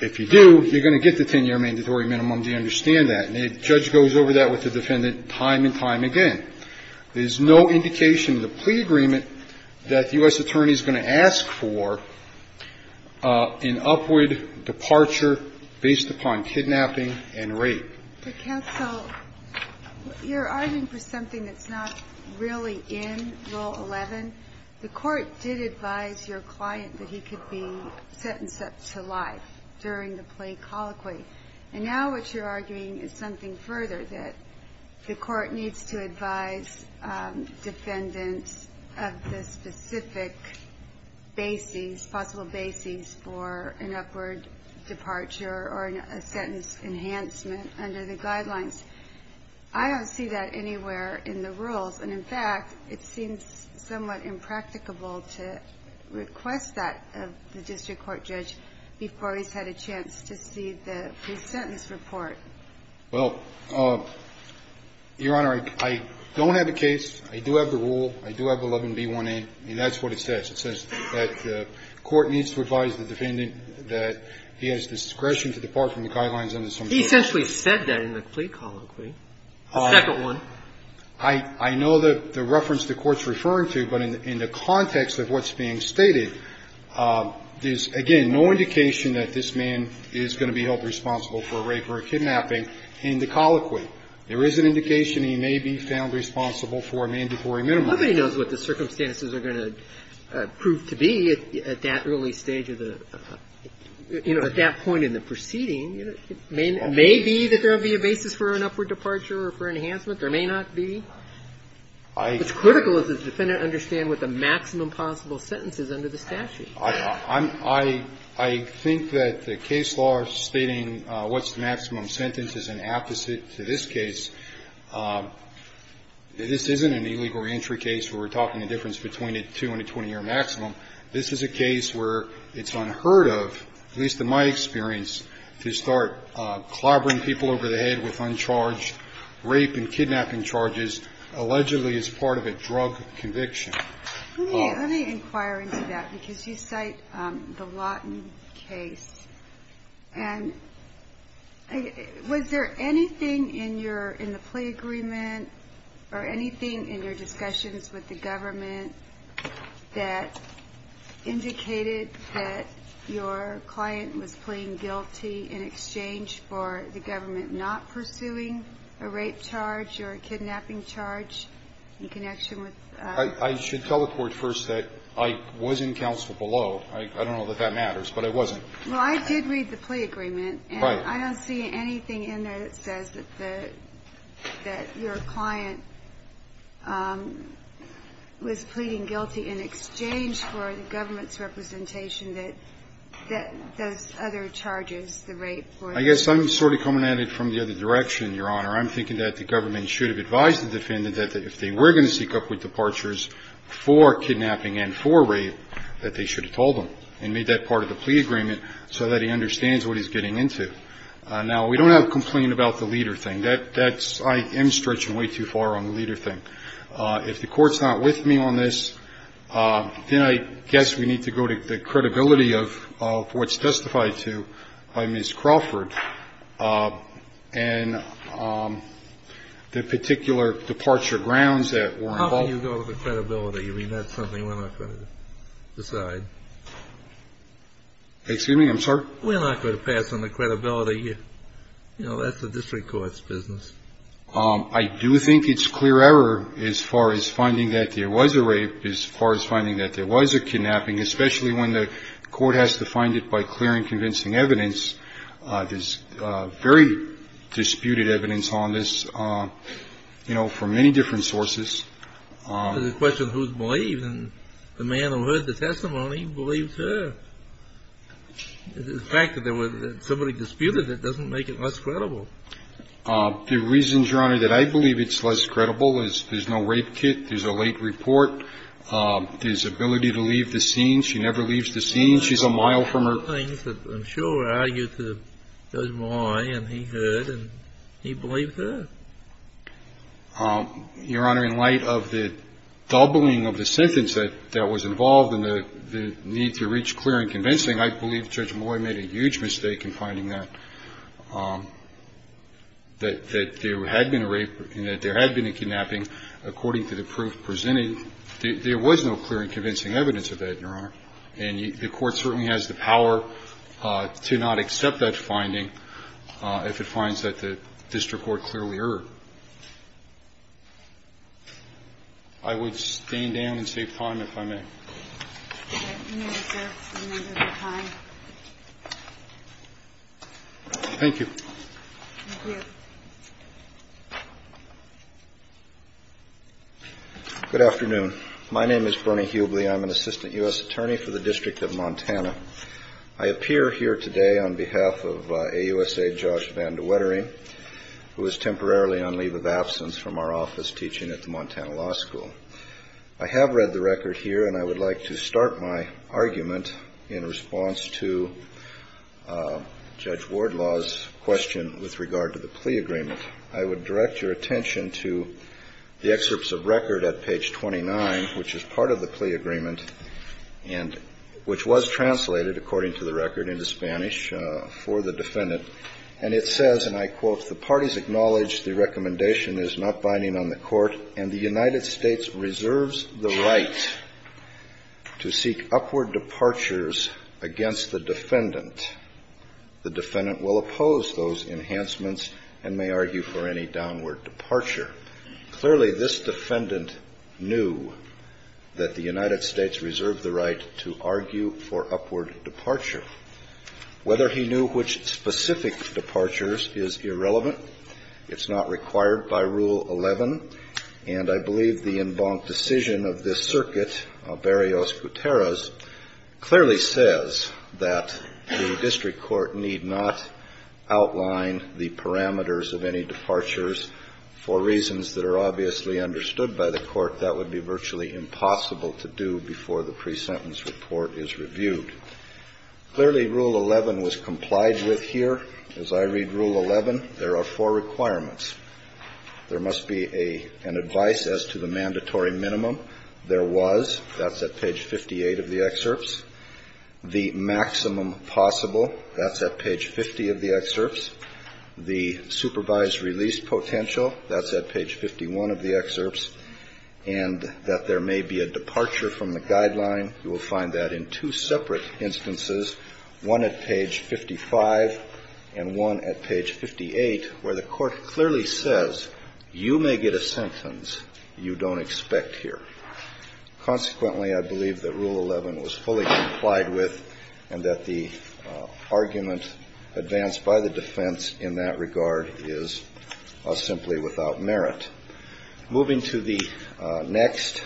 If you do, you're going to get the 10-year mandatory minimum. Do you understand that? And the judge goes over that with the defendant time and time again. There's no indication in the plea agreement that the U.S. attorney is going to ask for an upward departure based upon kidnapping and rape. The counsel, you're arguing for something that's not really in Rule 11. The court did advise your client that he could be sentenced up to life during the plea colloquy. And now what you're arguing is something further, that the court needs to advise defendants of the specific basis, possible basis, for an upward departure or a sentence enhancement under the guidelines. I don't see that anywhere in the rules. And, in fact, it seems somewhat impracticable to request that of the district court judge before he's had a chance to see the pre-sentence report. Well, Your Honor, I don't have a case. I do have the rule. I do have 11B1A. And that's what it says. It says that the court needs to advise the defendant that he has discretion to depart from the guidelines under some sort of rule. He essentially said that in the plea colloquy. The second one. I know the reference the Court's referring to. But in the context of what's being stated, there's, again, no indication that this man is going to be held responsible for a rape or a kidnapping in the colloquy. There is an indication he may be found responsible for a mandatory minimum. Nobody knows what the circumstances are going to prove to be at that early stage of the – you know, at that point in the proceeding. It may be that there will be a basis for an upward departure or for enhancement. There may not be. It's critical that the defendant understand what the maximum possible sentence is under the statute. I think that the case law stating what's the maximum sentence is an apposite to this case. This isn't an illegal reentry case where we're talking the difference between a 2 and a 20-year maximum. This is a case where it's unheard of, at least in my experience, to start clobbering people over the head with uncharged rape and kidnapping charges, allegedly as part of a drug conviction. Let me inquire into that because you cite the Lawton case. And was there anything in your – in the plea agreement or anything in your discussions with the government that indicated that your client was I should tell the Court first that I was in counsel below. I don't know that that matters, but I wasn't. Well, I did read the plea agreement. Right. And I don't see anything in there that says that the – that your client was pleading guilty in exchange for the government's representation that those other charges, the rape or the – I guess I'm sort of coming at it from the other direction, Your Honor. I'm thinking that the government should have advised the defendant that if they were going to seek upward departures for kidnapping and for rape, that they should have told him and made that part of the plea agreement so that he understands what he's getting into. Now, we don't have a complaint about the leader thing. That's – I am stretching way too far on the leader thing. If the Court's not with me on this, then I guess we need to go to the credibility of what's testified to by Ms. Crawford. And the particular departure grounds that were involved – How can you go to the credibility? I mean, that's something we're not going to decide. Excuse me? I'm sorry? We're not going to pass on the credibility. You know, that's the district court's business. I do think it's clear error as far as finding that there was a rape, as far as finding that there was a kidnapping, especially when the court has to find it by clear and convincing evidence. There's very disputed evidence on this, you know, from many different sources. It's a question of who's believed. And the man who heard the testimony believes her. The fact that somebody disputed it doesn't make it less credible. The reason, Your Honor, that I believe it's less credible is there's no rape kit. There's a late report. There's ability to leave the scene. She never leaves the scene. She's a mile from her – There are things that I'm sure are argued to Judge Moye, and he heard, and he believed her. Your Honor, in light of the doubling of the sentence that was involved in the need to reach clear and convincing, I believe Judge Moye made a huge mistake in finding that there had been a rape and that there had been a kidnapping. According to the proof presented, there was no clear and convincing evidence of that, Your Honor. And the court certainly has the power to not accept that finding if it finds that the district court clearly erred. I would stand down and save time, if I may. Thank you. Thank you. Good afternoon. My name is Bernie Hubley. I'm an assistant U.S. attorney for the District of Montana. I appear here today on behalf of AUSA Judge Van De Wettering, who is temporarily on leave of absence from our office teaching at the Montana Law School. I have read the record here, and I would like to start my argument in response to Judge Wardlaw's question with regard to the plea agreement. I would direct your attention to the excerpts of record at page 29, which is part of the plea agreement and which was translated, according to the record, into Spanish for the defendant. And it says, and I quote, If the parties acknowledge the recommendation is not binding on the court and the United States reserves the right to seek upward departures against the defendant, the defendant will oppose those enhancements and may argue for any downward departure. Clearly, this defendant knew that the United States reserved the right to argue for upward departure. Whether he knew which specific departures is irrelevant. It's not required by Rule 11. And I believe the en banc decision of this circuit, Barrios-Guterres, clearly says that the district court need not outline the parameters of any departures. For reasons that are obviously understood by the court, that would be virtually impossible to do before the pre-sentence report is reviewed. Clearly, Rule 11 was complied with here. As I read Rule 11, there are four requirements. There must be an advice as to the mandatory minimum. There was. That's at page 58 of the excerpts. The maximum possible. That's at page 50 of the excerpts. The supervised release potential. That's at page 51 of the excerpts. And that there may be a departure from the guideline. You will find that in two separate instances, one at page 55 and one at page 58, where the court clearly says you may get a sentence you don't expect here. Consequently, I believe that Rule 11 was fully complied with and that the argument advanced by the defense in that regard is simply without merit. Moving to the next,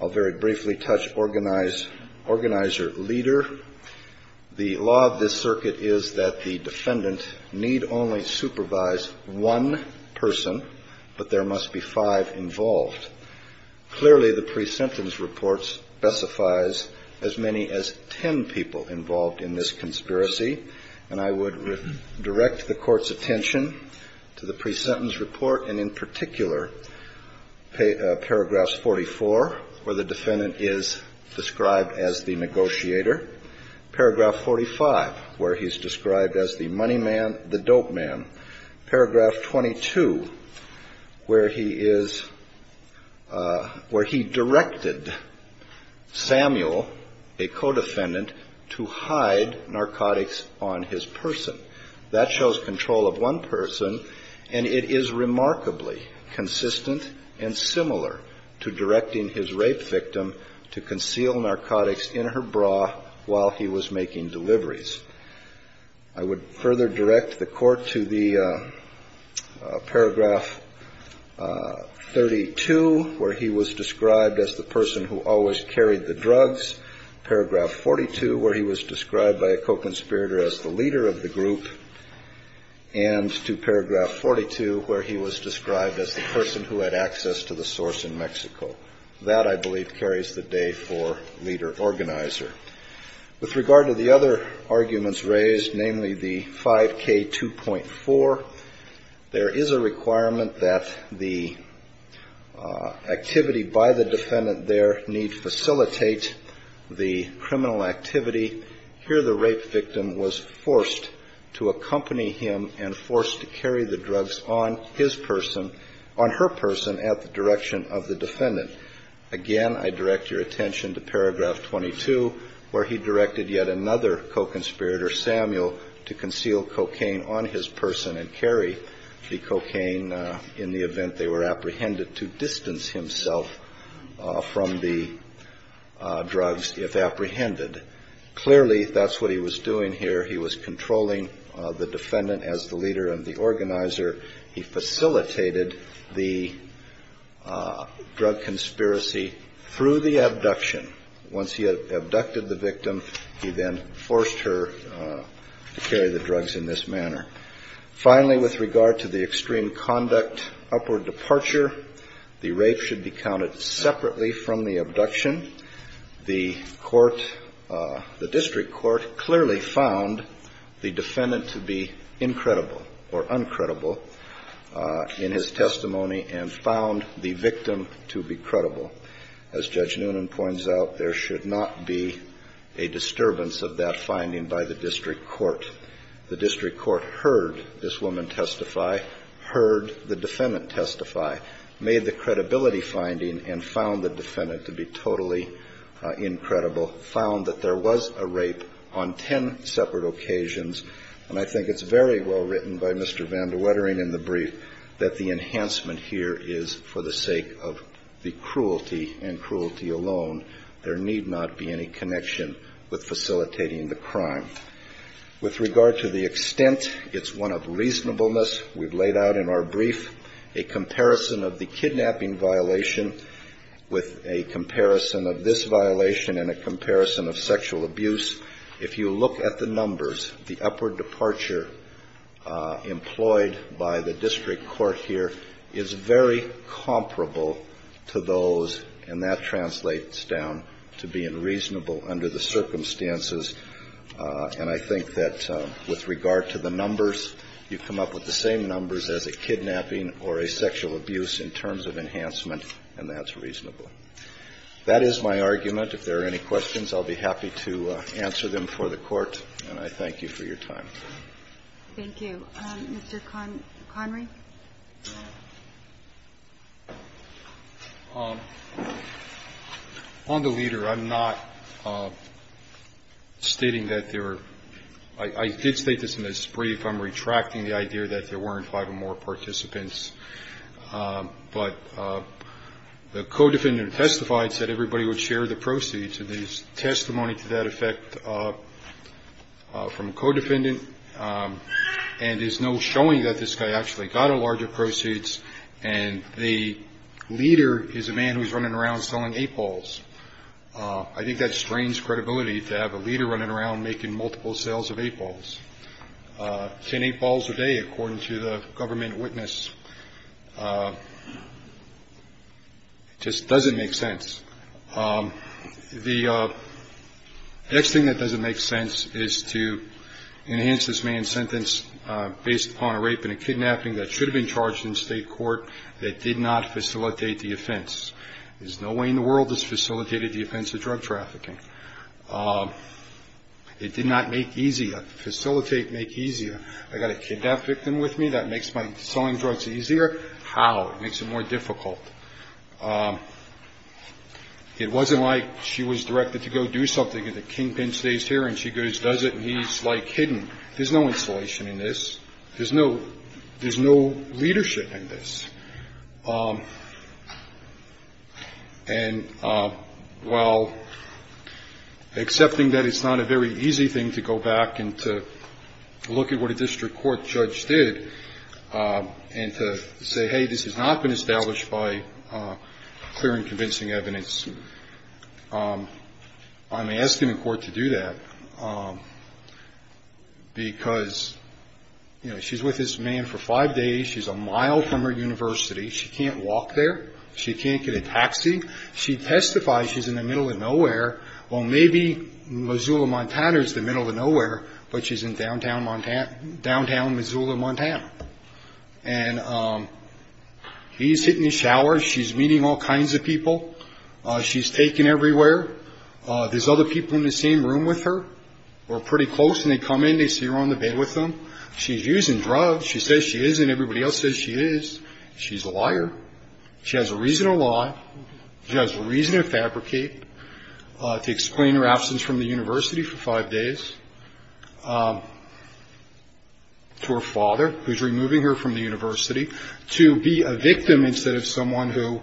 I'll very briefly touch organizer leader. The law of this circuit is that the defendant need only supervise one person, but there must be five involved. Clearly, the pre-sentence report specifies as many as ten people involved in this conspiracy, and I would direct the court's attention to the pre-sentence report and in particular paragraphs 44, where the defendant is described as the negotiator. Paragraph 45, where he's described as the money man, the dope man. Paragraph 22, where he is, where he directed Samuel, a co-defendant, to hide narcotics on his person. That shows control of one person, and it is remarkably consistent and similar to directing his rape victim to conceal narcotics in her bra while he was making deliveries. I would further direct the court to the paragraph 32, where he was described as the person who always carried the drugs. Paragraph 42, where he was described by a co-conspirator as the leader of the group, and to paragraph 42, where he was described as the person who had access to the source in Mexico. That, I believe, carries the day for leader organizer. With regard to the other arguments raised, namely the 5K2.4, there is a requirement that the activity by the defendant there need facilitate the criminal activity. Here the rape victim was forced to accompany him and forced to carry the drugs on his person, on her person, at the direction of the defendant. Again, I direct your attention to paragraph 22, where he directed yet another co-conspirator, Samuel, to conceal cocaine on his person and carry the cocaine in the event they were apprehended, to distance himself from the drugs if apprehended. Clearly, that's what he was doing here. He was controlling the defendant as the leader and the organizer. He facilitated the drug conspiracy through the abduction. Once he abducted the victim, he then forced her to carry the drugs in this manner. Finally, with regard to the extreme conduct upward departure, the rape should be counted separately from the abduction. The court, the district court, clearly found the defendant to be incredible or uncredible in his testimony and found the victim to be credible. As Judge Noonan points out, there should not be a disturbance of that finding by the district court. The district court heard this woman testify, heard the defendant testify, made the credibility finding and found the defendant to be totally incredible, found that there was a rape on ten separate occasions. And I think it's very well written by Mr. Van de Wetering in the brief that the enhancement here is for the sake of the cruelty and cruelty alone. There need not be any connection with facilitating the crime. With regard to the extent, it's one of reasonableness. We've laid out in our brief a comparison of the kidnapping violation with a comparison of this violation and a comparison of sexual abuse. If you look at the numbers, the upward departure employed by the district court here is very comparable to those, and that translates down to being reasonable under the circumstances. And I think that with regard to the numbers, you come up with the same numbers as a kidnapping or a sexual abuse in terms of enhancement, and that's reasonable. That is my argument. If there are any questions, I'll be happy to answer them for the Court. And I thank you for your time. Thank you. Mr. Connery? On the leader, I'm not stating that there are – I did state this in this brief. I'm retracting the idea that there weren't five or more participants. But the co-defendant testified, said everybody would share the proceeds. There's testimony to that effect from a co-defendant, and there's no showing that this guy actually got a larger proceeds. And the leader is a man who's running around selling eight balls. I think that strains credibility to have a leader running around making multiple sales of eight balls, ten eight balls a day, according to the government witness. It just doesn't make sense. The next thing that doesn't make sense is to enhance this man's sentence based upon a rape and a kidnapping that should have been charged in state court that did not facilitate the offense. There's no way in the world this facilitated the offense of drug trafficking. It did not make easier. Facilitate make easier. I got a kidnap victim with me. That makes my selling drugs easier. How? It makes it more difficult. It wasn't like she was directed to go do something and the kingpin stays here, and she goes, does it, and he's, like, hidden. There's no installation in this. There's no leadership in this. And while accepting that it's not a very easy thing to go back and to look at what a district court judge did and to say, hey, this has not been established by clear and convincing evidence, I'm asking the court to do that because, you know, she's with this man for five days. She's a mile from her university. She can't walk there. She can't get a taxi. She testifies she's in the middle of nowhere. Well, maybe Missoula, Montana is the middle of nowhere, but she's in downtown Missoula, Montana. And he's hitting the shower. She's meeting all kinds of people. She's taken everywhere. There's other people in the same room with her or pretty close, and they come in. They see her on the bed with them. She's using drugs. She says she is, and everybody else says she is. She's a liar. She has a reason to lie. She has a reason to fabricate, to explain her absence from the university for five days to her father, who's removing her from the university, to be a victim instead of someone who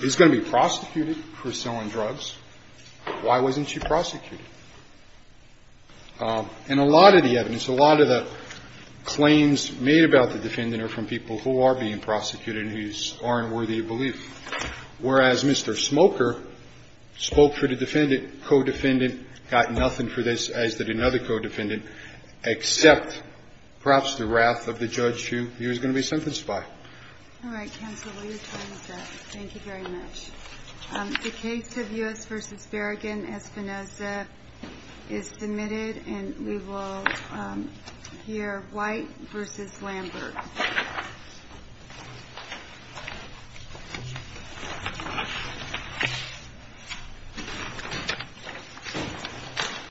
is going to be prosecuted for selling drugs. Why wasn't she prosecuted? And a lot of the evidence, a lot of the claims made about the defendant are from people who are being prosecuted and who aren't worthy of belief, whereas Mr. Smoker spoke for the defendant, co-defendant, got nothing for this, as did another co-defendant, except perhaps the wrath of the judge who he was going to be sentenced by. All right. Counsel, will you tell us that? Thank you very much. The case of U.S. v. Berrigan v. Espinoza is submitted, and we will hear White v. Lambert.